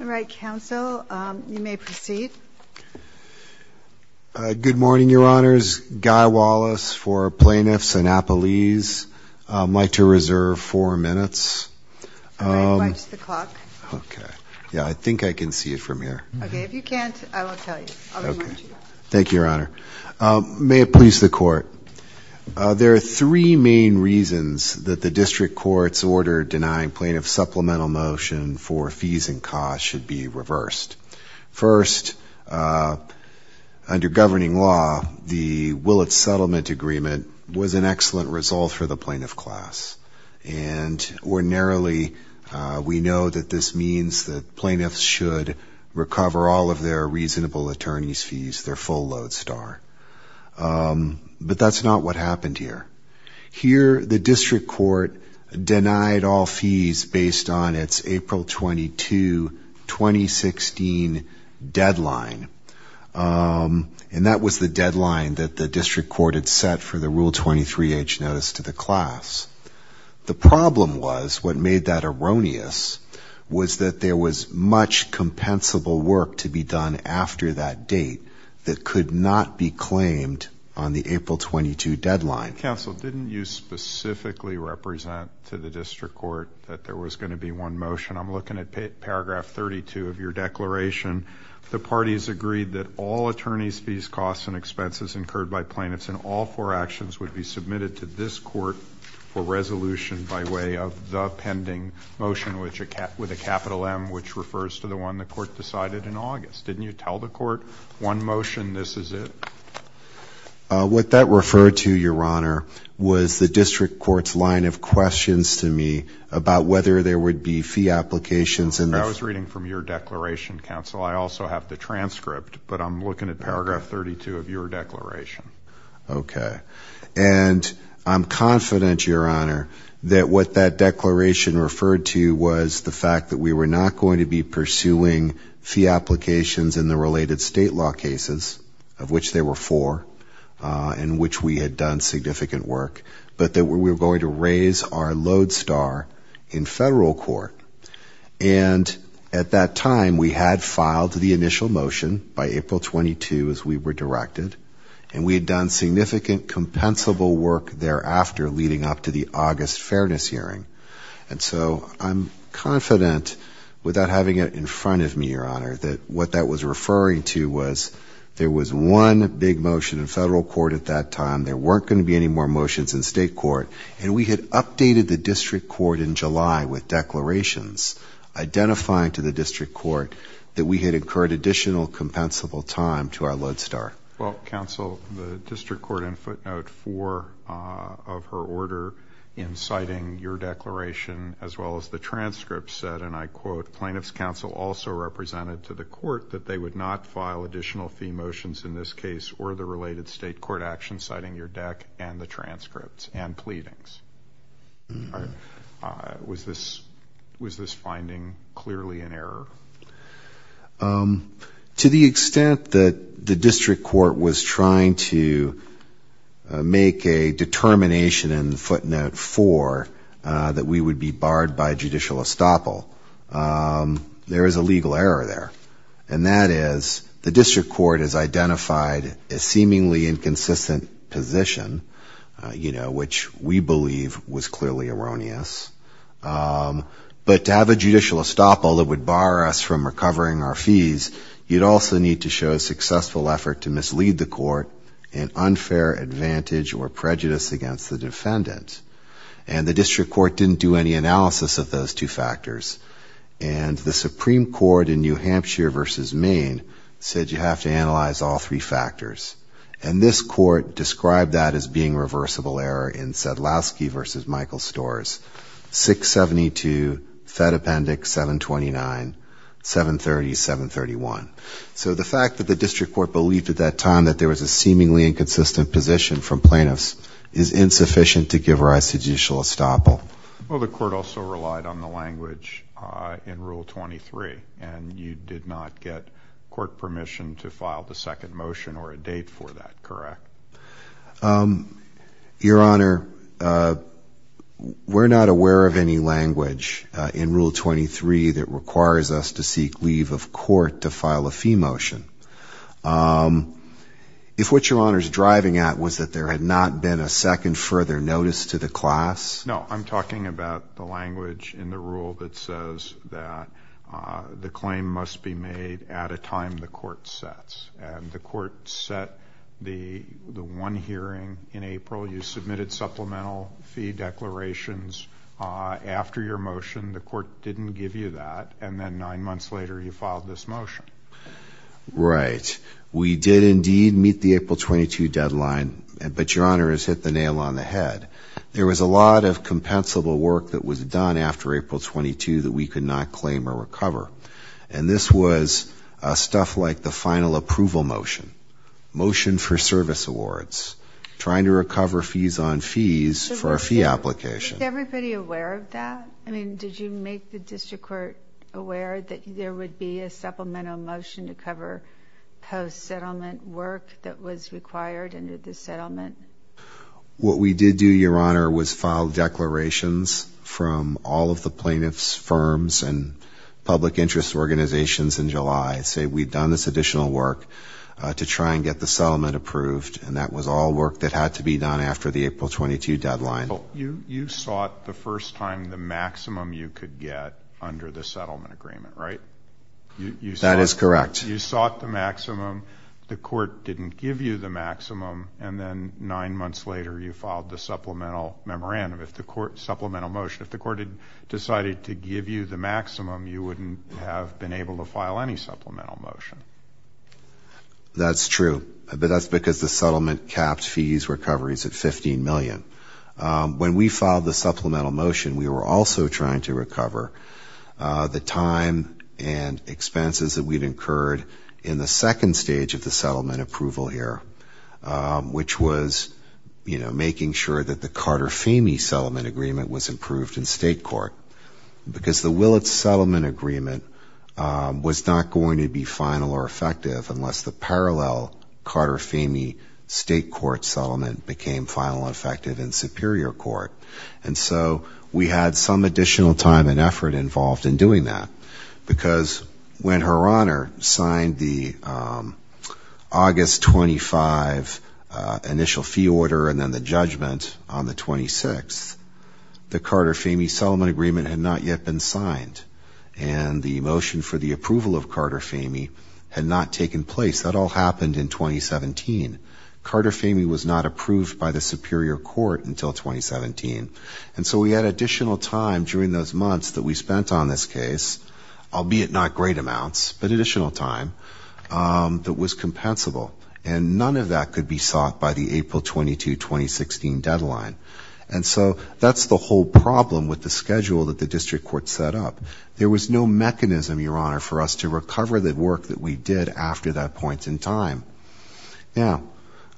All right, counsel, you may proceed. Good morning, Your Honors. Guy Wallace for Plaintiffs Annapolis. I'd like to reserve four minutes. Watch the clock. Yeah, I think I can see it from here. Okay, if you can't, I won't tell you. Thank you, Your Honor. May it please the Court, there are three main reasons that the district court's order denying plaintiff supplemental motion for fees and costs should be reversed. First, under governing law, the Willits Settlement Agreement was an excellent result for the plaintiff class. And ordinarily, we know that this means that plaintiffs should recover all of their reasonable attorney's fees, their full load star. But that's not what happened here. Here, the district court denied all fees based on its April 22, 2016 deadline. And that was the deadline that the district court had set for the Rule 23-H notice to the class. The problem was, what made that erroneous, was that there was much compensable work to be done after that date that could not be claimed on the April 22 deadline. Counsel, didn't you specifically represent to the district court that there was going to be one motion? I'm looking at paragraph 32 of your declaration. The parties agreed that all attorney's fees, costs, and expenses incurred by plaintiffs in all four actions would be submitted to this court for resolution by way of the pending motion, with a capital M, which refers to the one the court decided in August. Didn't you tell the court, one motion, this is it? What that referred to, Your Honor, was the district court's line of questions to me about whether there would be fee applications. I was reading from your declaration, Counsel. I also have the transcript, but I'm looking at paragraph 32 of your declaration. Okay. And I'm confident, Your Honor, that what that declaration referred to was the fact that we were not going to be pursuing fee applications in the related state law cases, of which there were four, in which we had done significant work, but that we were going to raise our load star in federal court. And at that time, we had filed the initial motion by April 22, as we were directed, and we had done significant compensable work thereafter leading up to the August fairness hearing. And so I'm confident, without having it in front of me, Your Honor, that what that was referring to was there was one big motion in federal court at that time. There weren't going to be any more motions in state court. And we had updated the district court in July with declarations identifying to the district court that we had incurred additional compensable time to our load star. Well, Counsel, the district court in footnote four of her order in citing your declaration, as well as the transcript, said, and I quote, the plaintiff's counsel also represented to the court that they would not file additional fee motions in this case or the related state court action citing your deck and the transcripts and pleadings. Was this finding clearly an error? To the extent that the district court was trying to make a determination in footnote four that we would be barred by judicial estoppel, there is a legal error there. And that is the district court has identified a seemingly inconsistent position, you know, which we believe was clearly erroneous. But to have a judicial estoppel that would bar us from recovering our fees, you'd also need to show a successful effort to mislead the court in unfair advantage or prejudice against the defendant. And the district court didn't do any analysis of those two factors. And the Supreme Court in New Hampshire versus Maine said you have to analyze all three factors. And this court described that as being reversible error in Sadlowski versus Michael Storrs, 672, Fed Appendix 729, 730, 731. So the fact that the district court believed at that time that there was a seemingly inconsistent position from plaintiffs is insufficient to give rise to judicial estoppel. Well, the court also relied on the language in Rule 23. And you did not get court permission to file the second motion or a date for that, correct? Your Honor, we're not aware of any language in Rule 23 that requires us to seek leave of court to file a fee motion. If what Your Honor is driving at was that there had not been a second further notice to the class? No, I'm talking about the language in the rule that says that the claim must be made at a time the court sets. And the court set the one hearing in April. You submitted supplemental fee declarations after your motion. The court didn't give you that. And then nine months later you filed this motion. Right. We did indeed meet the April 22 deadline, but Your Honor has hit the nail on the head. There was a lot of compensable work that was done after April 22 that we could not claim or recover. And this was stuff like the final approval motion, motion for service awards, trying to recover fees on fees for a fee application. Was everybody aware of that? I mean, did you make the district court aware that there would be a supplemental motion to cover post-settlement work that was required under the settlement? What we did do, Your Honor, was file declarations from all of the plaintiffs' firms and public interest organizations in July. Say, we've done this additional work to try and get the settlement approved. And that was all work that had to be done after the April 22 deadline. You sought the first time the maximum you could get under the settlement agreement, right? That is correct. You sought the maximum. The court didn't give you the maximum. And then nine months later you filed the supplemental memorandum. If the court had decided to give you the maximum, you wouldn't have been able to file any supplemental motion. That's true. But that's because the settlement capped fees recoveries at $15 million. When we filed the supplemental motion, we were also trying to recover the time and expenses that we'd incurred in the second stage of the settlement approval here, which was making sure that the Carter-Famey settlement agreement was approved in state court. Because the Willits settlement agreement was not going to be final or effective unless the parallel Carter-Famey state court settlement became final and effective in superior court. And so we had some additional time and effort involved in doing that. Because when Her Honor signed the August 25 initial fee order and then the judgment on the 26th, the Carter-Famey settlement agreement had not yet been signed. And the motion for the approval of Carter-Famey had not taken place. That all happened in 2017. Carter-Famey was not approved by the superior court until 2017. And so we had additional time during those months that we spent on this case, albeit not great amounts, but additional time that was compensable. And none of that could be sought by the April 22, 2016 deadline. And so that's the whole problem with the schedule that the district court set up. There was no mechanism, Your Honor, for us to recover the work that we did after that point in time. Now,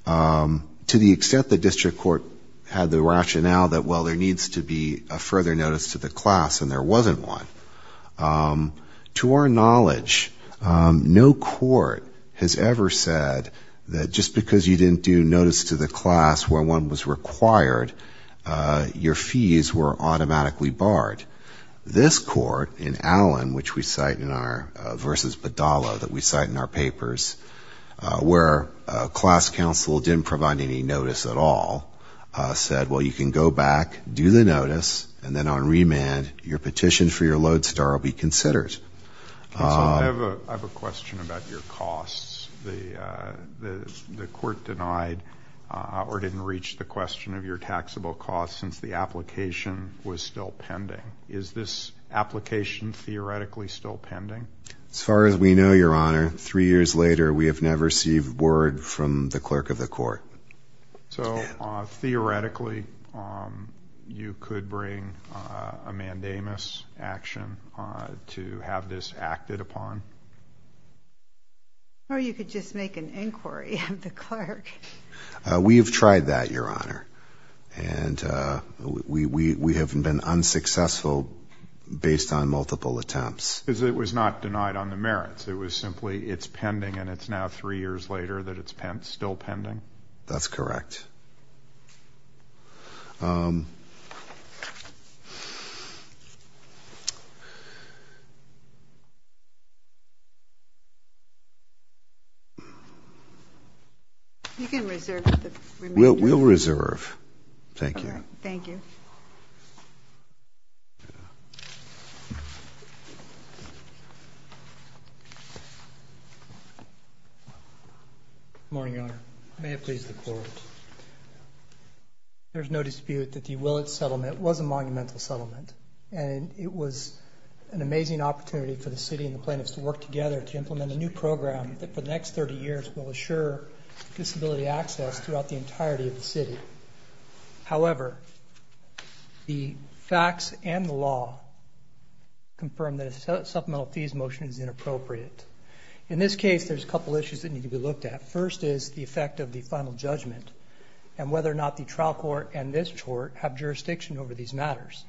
to the extent the district court had the rationale that, well, there needs to be a further notice to the class and there wasn't one, to our knowledge, no court has ever said that just because you didn't do notice to the class where one was required, your fees were automatically barred. This court in Allen, which we cite in our versus Bedalla that we cite in our papers, where class counsel didn't provide any notice at all, said, well, you can go back, do the notice, and then on remand, your petition for your lodestar will be considered. I have a question about your costs. The court denied or didn't reach the question of your taxable costs since the application was still pending. Is this application theoretically still pending? As far as we know, Your Honor, three years later, we have never received word from the clerk of the court. So theoretically, you could bring a mandamus action to have this acted upon? Or you could just make an inquiry of the clerk. We have tried that, Your Honor, and we have been unsuccessful based on multiple attempts. Because it was not denied on the merits. It was simply it's pending, and it's now three years later that it's still pending? That's correct. You can reserve the remand. Good morning, Your Honor. May it please the Court. I have two questions. One is, the court denied the court the right to provide the access throughout the entirety of the city. However, the facts and the law confirm that a supplemental fees motion is inappropriate. In this case, there's a couple issues that need to be looked at. First is the effect of the final judgment, and whether or not the trial court and this court have jurisdiction over these matters.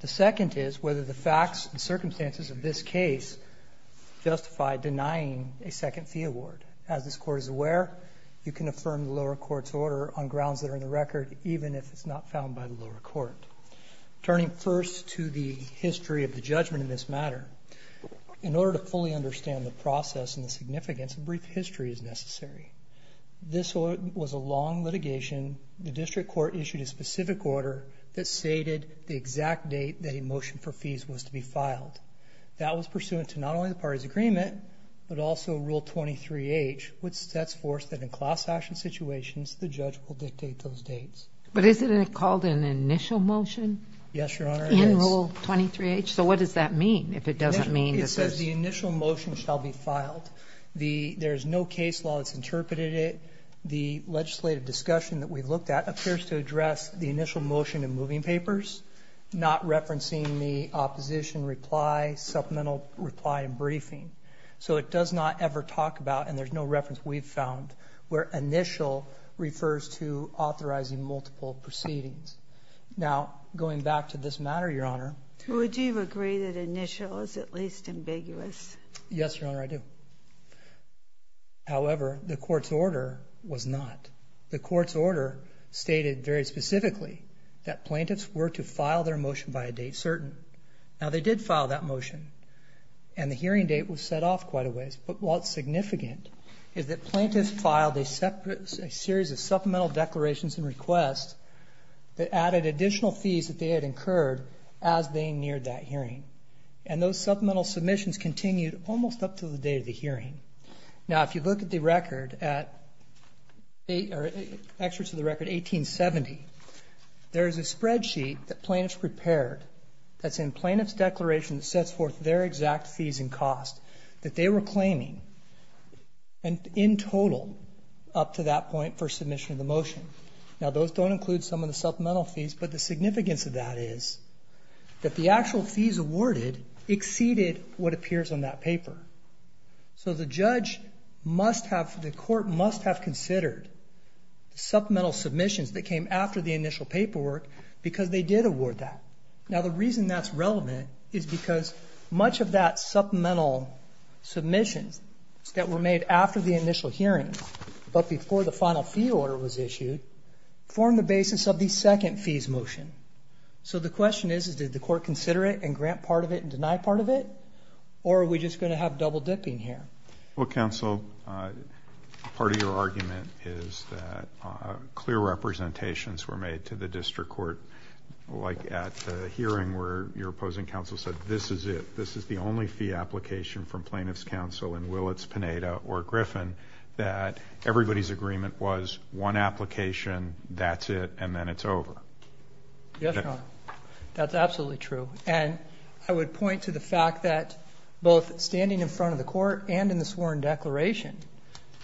The second is whether the facts and circumstances of this case justify denying a second fee award. As this court is aware, you can affirm the lower court's order on grounds that are in the record, even if it's not found by the lower court. Turning first to the history of the judgment in this matter, in order to fully understand the process and the significance, a brief history is necessary. This was a long litigation. The district court issued a specific order that stated the exact date that a motion for fees was to be filed. That was pursuant to not only the party's agreement, but also Rule 23H, which sets forth that in class action situations, the judge will dictate those dates. But isn't it called an initial motion? Yes, Your Honor, it is. In Rule 23H? So what does that mean? It says the initial motion shall be filed. There's no case law that's interpreted it. The legislative discussion that we looked at appears to address the initial motion and moving papers, not referencing the opposition reply, supplemental reply, and briefing. So it does not ever talk about, and there's no reference we've found, where initial refers to authorizing multiple proceedings. Now, going back to this matter, Your Honor. Would you agree that initial is at least ambiguous? Yes, Your Honor, I do. However, the court's order was not. The court's order stated very specifically that plaintiffs were to file their motion by a date certain. Now, they did file that motion, and the hearing date was set off quite a ways. But what's significant is that plaintiffs filed a series of supplemental declarations and requests that added additional fees that they had incurred as they neared that hearing. And those supplemental submissions continued almost up to the date of the hearing. Now, if you look at the record, at excerpts of the record 1870, there is a spreadsheet that plaintiffs prepared that's in plaintiff's declaration that sets forth their exact fees and costs that they were claiming in total up to that point for submission of the motion. Now, those don't include some of the supplemental fees, but the significance of that is that the actual fees awarded exceeded what appears on that paper. So the judge must have, the court must have considered the supplemental submissions that came after the initial paperwork because they did award that. Now, the reason that's relevant is because much of that supplemental submissions that were made after the initial hearing, but before the final fee order was issued, formed the basis of the second fees motion. So the question is, did the court consider it and grant part of it and deny part of it? Or are we just going to have double dipping here? Well, counsel, part of your argument is that clear representations were made to the district court like at the hearing where your opposing counsel said, this is it, this is the only fee application from plaintiff's counsel and will it's Pineda or Griffin, that everybody's agreement was one application, that's it, and then it's over. Yes, Your Honor, that's absolutely true. And I would point to the fact that both standing in front of the court and in the sworn declaration,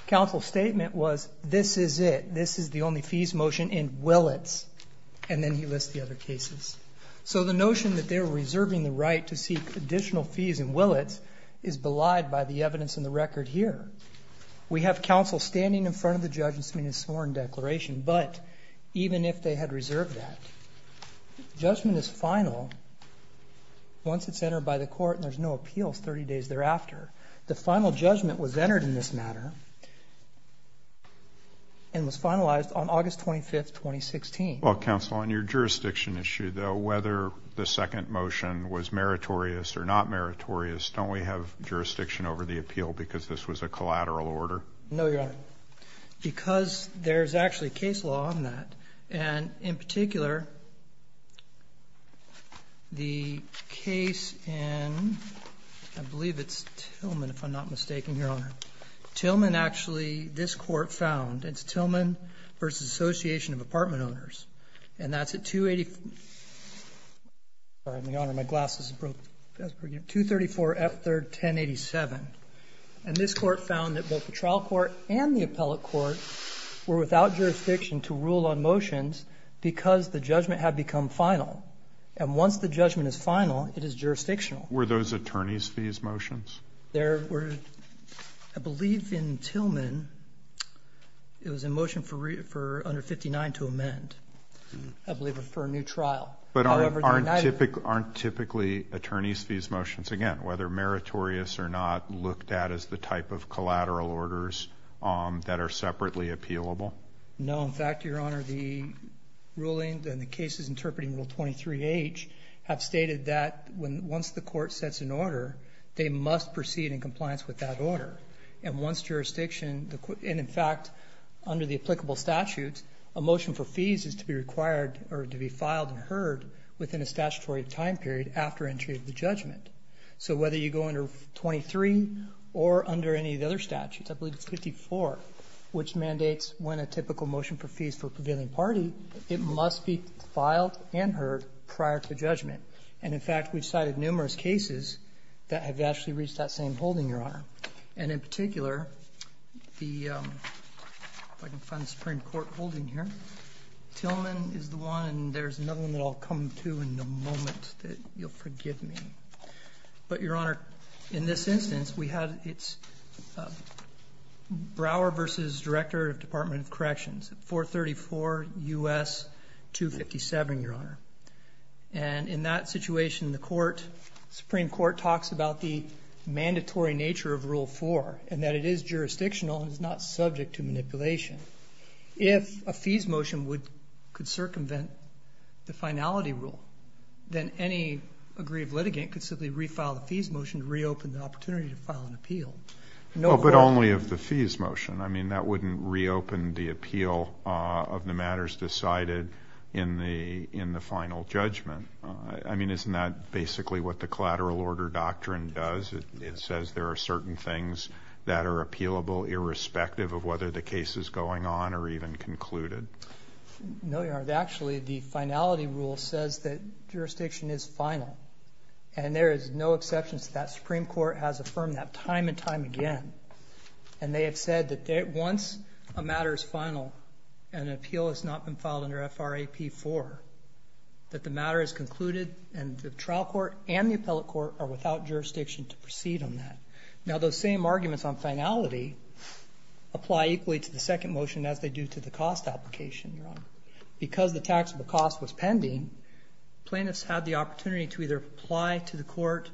counsel's statement was, this is it, this is the only fees motion and will it's, and then he lists the other cases. So the notion that they're reserving the right to seek additional fees and will it's is belied by the evidence in the record here. We have counsel standing in front of the judge in the sworn declaration, but even if they had reserved that, judgment is final once it's entered by the court and there's no appeals 30 days thereafter. The final judgment was entered in this matter and was finalized on August 25th, 2016. Well, counsel, on your jurisdiction issue, though, whether the second motion was meritorious or not meritorious, don't we have jurisdiction over the appeal because this was a collateral order? No, Your Honor, because there's actually case law on that, and in particular, the case in, I believe it's Tillman, if I'm not mistaken, Your Honor. Tillman actually, this court found, it's Tillman v. Association of Apartment Owners, and that's at 284, sorry, Your Honor, my glasses broke, 234 F. 3rd, 1087. And this court found that both the trial court and the appellate court were without jurisdiction to rule on motions because the judgment had become final. And once the judgment is final, it is jurisdictional. Were those attorney's fees motions? There were, I believe in Tillman, it was a motion for under 59 to amend. I believe it was for a new trial. But aren't typically attorney's fees motions, again, whether meritorious or not, looked at as the type of collateral orders that are separately appealable? No. In fact, Your Honor, the ruling and the cases interpreting Rule 23H have stated that once the court sets an order, they must proceed in compliance with that order. And once jurisdiction, and in fact, under the applicable statutes, a motion for fees is to be required or to be filed and heard within a statutory time period after entry of the judgment. So whether you go under 23 or under any of the other statutes, I believe it's 54, which mandates when a typical motion for fees for a prevailing party, it must be filed and heard prior to judgment. And in fact, we've cited numerous cases that have actually reached that same holding, Your Honor. And in particular, the, if I can find the Supreme Court holding here, Tillman is the one, and there's another one that I'll come to in a moment that you'll forgive me. But, Your Honor, in this instance, we had, it's Brower v. Director of Department of Corrections, 434 U.S. 257, Your Honor. And in that situation, the Supreme Court talks about the mandatory nature of Rule 4, and that it is jurisdictional and is not subject to manipulation. If a fees motion could circumvent the finality rule, then any aggrieved litigant could simply refile the fees motion to reopen the opportunity to file an appeal. But only of the fees motion. I mean, that wouldn't reopen the appeal of the matters decided in the final judgment. I mean, isn't that basically what the collateral order doctrine does? It says there are certain things that are appealable, irrespective of whether the case is going on or even concluded. No, Your Honor. Actually, the finality rule says that jurisdiction is final. And there is no exception to that. Supreme Court has affirmed that time and time again. And they have said that once a matter is final and an appeal has not been filed under FRAP 4, that the matter is concluded and the trial court and the appellate court are without jurisdiction to proceed on that. Now, those same arguments on finality apply equally to the second motion as they do to the cost application, Your Honor. Because the taxable cost was pending, plaintiffs had the opportunity to either apply to the court,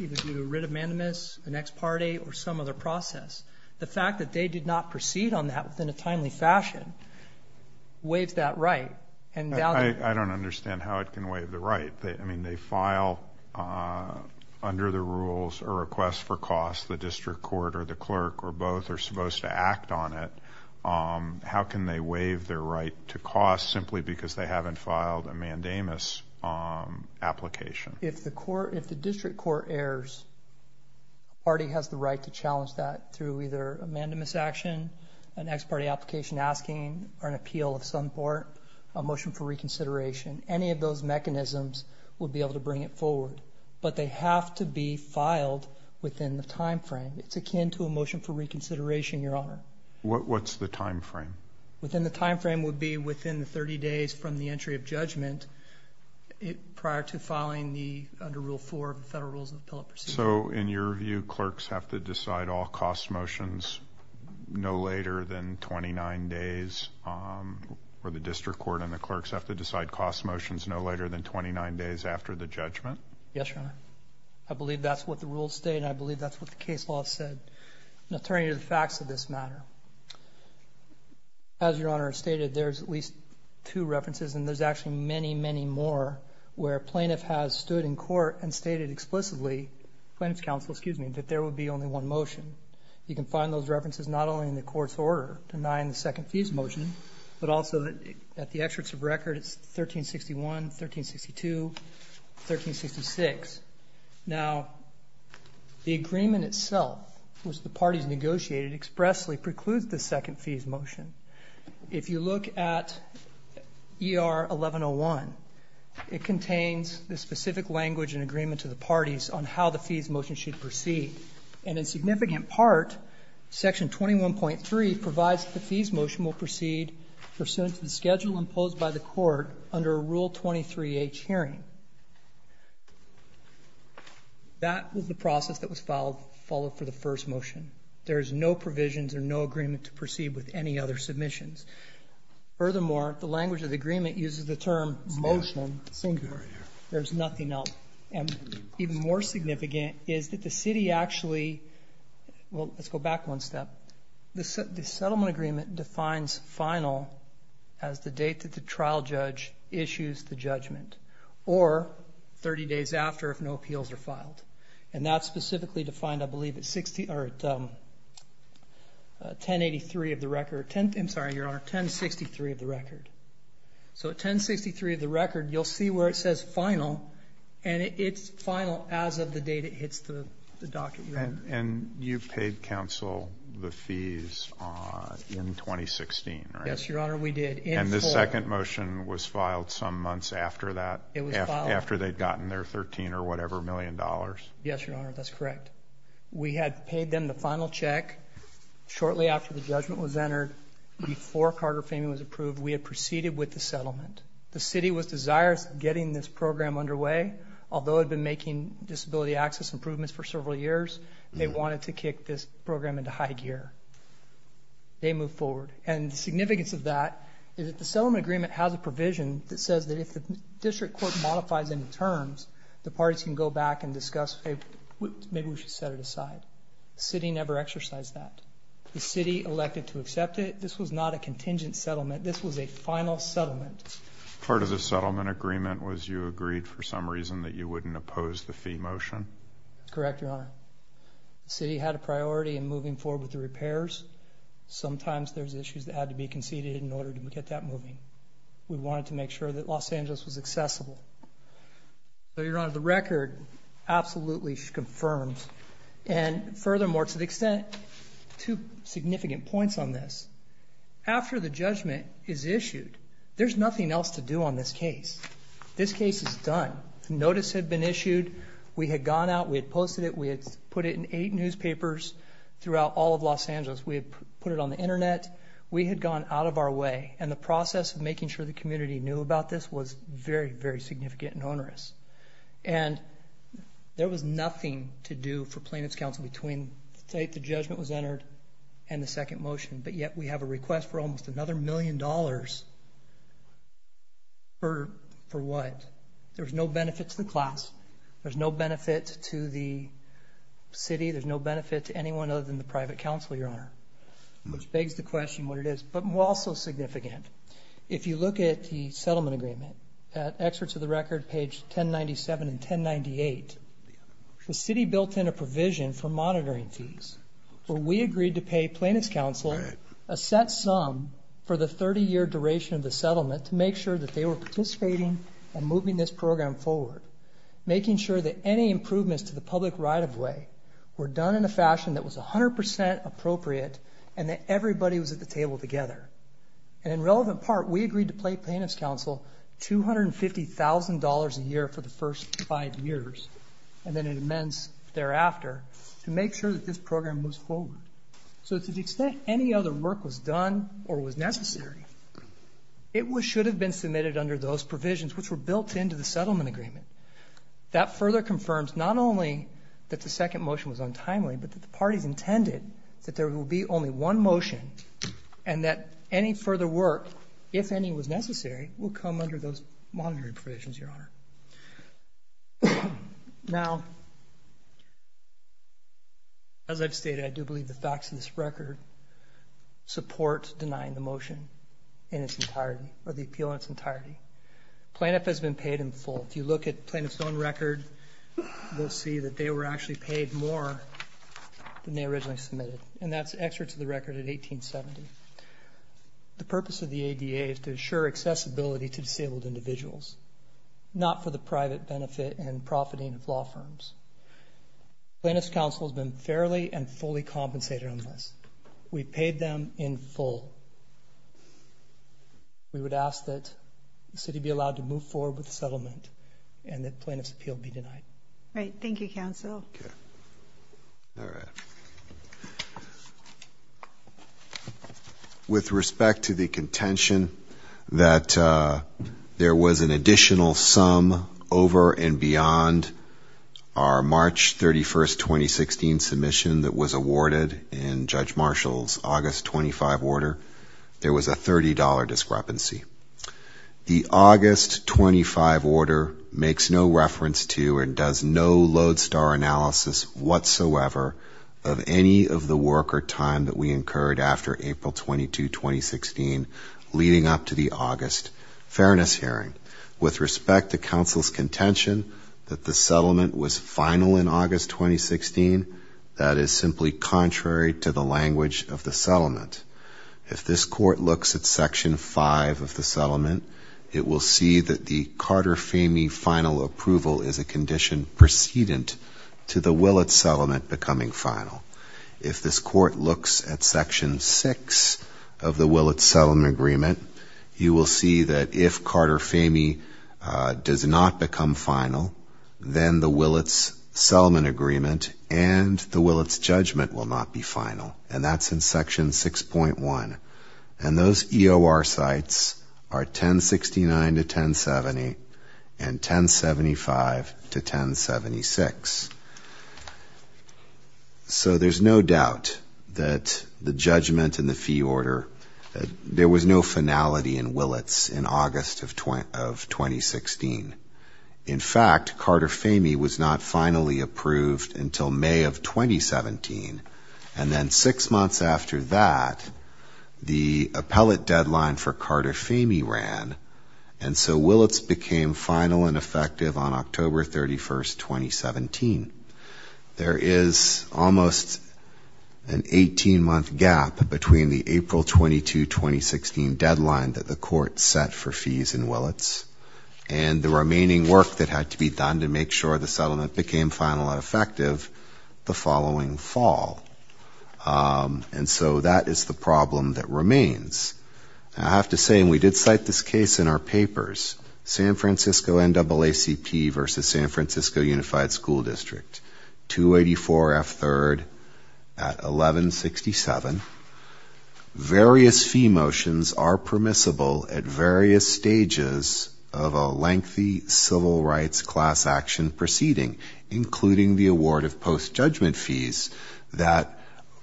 either do a writ of mandamus, an ex parte, or some other process. The fact that they did not proceed on that within a timely fashion waives that right. I don't understand how it can waive the right. I mean, they file under the rules a request for cost. The district court or the clerk or both are supposed to act on it. How can they waive their right to cost simply because they haven't filed a mandamus application? If the district court errs, the party has the right to challenge that through either a mandamus action, an ex parte application asking, or an appeal of some sort, a motion for reconsideration. Any of those mechanisms would be able to bring it forward. But they have to be filed within the time frame. It's akin to a motion for reconsideration, Your Honor. What's the time frame? Within the time frame would be within 30 days from the entry of judgment prior to filing under Rule 4 of the Federal Rules of Appellate Procedure. So in your view, clerks have to decide all cost motions no later than 29 days, or the district court and the clerks have to decide cost motions no later than 29 days after the judgment? Yes, Your Honor. I believe that's what the rules state, and I believe that's what the case law said. Now turning to the facts of this matter, as Your Honor stated, there's at least two references, and there's actually many, many more where a plaintiff has stood in court and stated explicitly, plaintiff's counsel, excuse me, that there would be only one motion. You can find those references not only in the court's order denying the second fees motion, but also at the excerpts of record, it's 1361, 1362, 1366. Now the agreement itself, which the parties negotiated expressly precludes the second fees motion. If you look at ER 1101, it contains the specific language and agreement to the parties on how the fees motion should proceed, and in significant part, Section 21.3 provides that the fees motion will proceed pursuant to the schedule imposed by the court under Rule 23H hearing. That was the process that was followed for the first motion. There's no provisions or no agreement to proceed with any other submissions. Furthermore, the language of the agreement uses the term motion singular. There's nothing else. Even more significant is that the city actually, well, let's go back one step. The settlement agreement defines final as the date that the trial judge issues the judgment or 30 days after if no appeals are filed, and that's specifically defined, I believe, at 1083 of the record. I'm sorry, Your Honor, 1063 of the record. So at 1063 of the record, you'll see where it says final, and it's final as of the date it hits the docket. And you paid counsel the fees in 2016, right? Yes, Your Honor, we did. And the second motion was filed some months after that, after they'd gotten their $13-or-whatever-million? Yes, Your Honor, that's correct. We had paid them the final check shortly after the judgment was entered, before Carter Faming was approved. We had proceeded with the settlement. The city was desirous of getting this program underway. Although it had been making disability access improvements for several years, they wanted to kick this program into high gear. They moved forward. And the significance of that is that the settlement agreement has a provision that says that if the district court modifies any terms, the parties can go back and discuss, hey, maybe we should set it aside. The city never exercised that. The city elected to accept it. This was not a contingent settlement. This was a final settlement. Part of the settlement agreement was you agreed for some reason that you wouldn't oppose the fee motion? That's correct, Your Honor. The city had a priority in moving forward with the repairs. Sometimes there's issues that had to be conceded in order to get that moving. We wanted to make sure that Los Angeles was accessible. So, Your Honor, the record absolutely confirms. And furthermore, to the extent, two significant points on this. After the judgment is issued, there's nothing else to do on this case. This case is done. The notice had been issued. We had gone out. We had posted it. We had put it in eight newspapers throughout all of Los Angeles. We had put it on the Internet. We had gone out of our way. And the process of making sure the community knew about this was very, very significant and onerous. And there was nothing to do for plaintiff's counsel between the date the judgment was entered and the second motion. But yet we have a request for almost another million dollars for what? There's no benefit to the class. There's no benefit to the city. There's no benefit to anyone other than the private counsel, Your Honor, which begs the question what it is. But also significant. If you look at the settlement agreement, at excerpts of the record, page 1097 and 1098, the city built in a provision for monitoring fees. We agreed to pay plaintiff's counsel a set sum for the 30-year duration of the settlement to make sure that they were participating and moving this program forward, making sure that any improvements to the public right-of-way were done in a fashion that was 100% appropriate and that everybody was at the table together. And in relevant part, we agreed to pay plaintiff's counsel $250,000 a year for the first five years and then an amends thereafter to make sure that this program moves forward. So to the extent any other work was done or was necessary, it should have been submitted under those provisions which were built into the settlement agreement. That further confirms not only that the second motion was untimely, but that the parties intended that there will be only one motion and that any further work, if any was necessary, will come under those monitoring provisions, Your Honor. Now, as I've stated, I do believe the facts of this record support denying the motion in its entirety, or the appeal in its entirety. Plaintiff has been paid in full. If you look at plaintiff's own record, you'll see that they were actually paid more than they originally submitted, and that's excerpt to the record in 1870. The purpose of the ADA is to assure accessibility to disabled individuals, not for the private benefit and profiting of law firms. Plaintiff's counsel has been fairly and fully compensated on this. We paid them in full. We would ask that the city be allowed to move forward with the settlement and that plaintiff's appeal be denied. All right. Thank you, counsel. Okay. All right. With respect to the contention that there was an additional sum over and beyond our March 31, 2016, submission that was awarded in Judge Marshall's August 25 order, there was a $30 discrepancy. The August 25 order makes no reference to and does no lodestar analysis whatsoever of any of the work or time that we incurred after April 22, 2016, leading up to the August fairness hearing. With respect to counsel's contention that the settlement was final in August 2016, that is simply contrary to the language of the settlement. If this court looks at Section 5 of the settlement, it will see that the Carter-Famey final approval is a condition precedent to the Willett settlement becoming final. If this court looks at Section 6 of the Willett settlement agreement, you will see that if Carter-Famey does not become final, then the Willett's settlement agreement and the Willett's judgment will not be final. And that's in Section 6.1. And those EOR sites are 1069 to 1070 and 1075 to 1076. So there's no doubt that the judgment in the fee order, there was no finality in Willett's in August of 2016. In fact, Carter-Famey was not finally approved until May of 2017, and then six months after that, the appellate deadline for Carter-Famey ran, and so Willett's became final and effective on October 31, 2017. There is almost an 18-month gap between the April 22, 2016 deadline that the court set for fees in Willett's and the remaining work that had to be done to make sure the settlement became final and effective the following fall. And so that is the problem that remains. I have to say, and we did cite this case in our papers, in the district, 284F3rd at 1167. Various fee motions are permissible at various stages of a lengthy civil rights class action proceeding, including the award of post-judgment fees that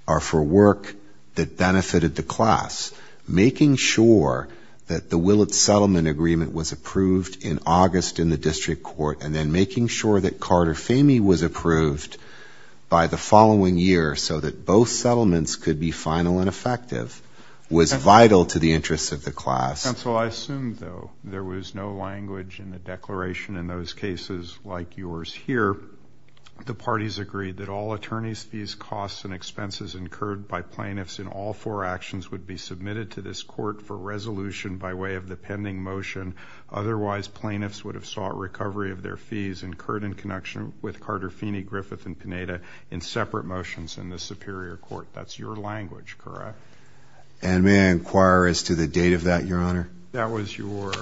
are for work that benefited the class. Making sure that the Willett's settlement agreement was approved in August in the district court, and then making sure that Carter-Famey was approved by the following year so that both settlements could be final and effective was vital to the interests of the class. Counsel, I assume, though, there was no language in the declaration in those cases like yours here. The parties agreed that all attorneys' fees, costs, and expenses incurred by plaintiffs in all four actions would be submitted to this court for resolution by way of the pending motion. Otherwise, plaintiffs would have sought recovery of their fees incurred in connection with Carter-Famey, Griffith, and Pineda in separate motions in the Superior Court. That's your language, correct? And may I inquire as to the date of that, Your Honor? That was your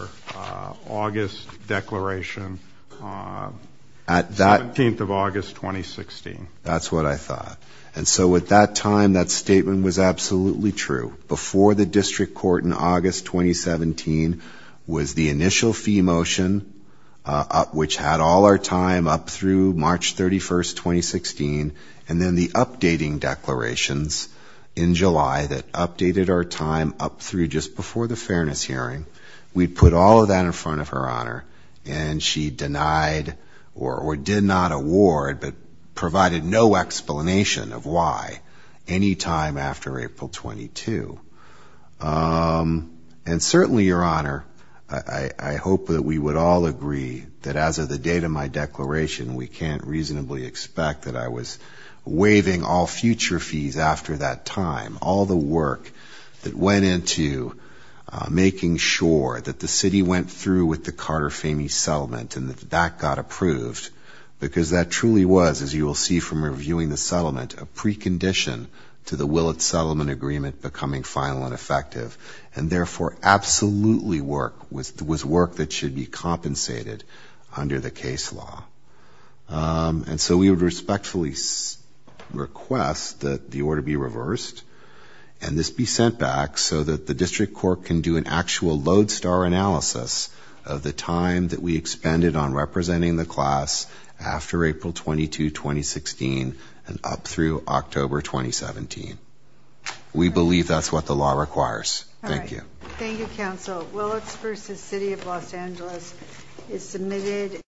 August declaration, 17th of August, 2016. That's what I thought. And so at that time, that statement was absolutely true. Before the district court in August 2017 was the initial fee motion, which had all our time up through March 31st, 2016, and then the updating declarations in July that updated our time up through just before the fairness hearing. We put all of that in front of Her Honor, and she denied or did not award, but provided no explanation of why any time after April 22. And certainly, Your Honor, I hope that we would all agree that as of the date of my declaration, we can't reasonably expect that I was waiving all future fees after that time, all the work that went into making sure that the city went through with the Carter-Famey settlement and that that got approved, because that truly was, as you will see from reviewing the settlement, a precondition to the Willett Settlement Agreement becoming final and effective, and therefore absolutely was work that should be compensated under the case law. And so we would respectfully request that the order be reversed, and this be sent back so that the district court can do an actual lodestar analysis of the time that we expended on representing the class after April 22, 2016, and up through October 2017. We believe that's what the law requires. Thank you.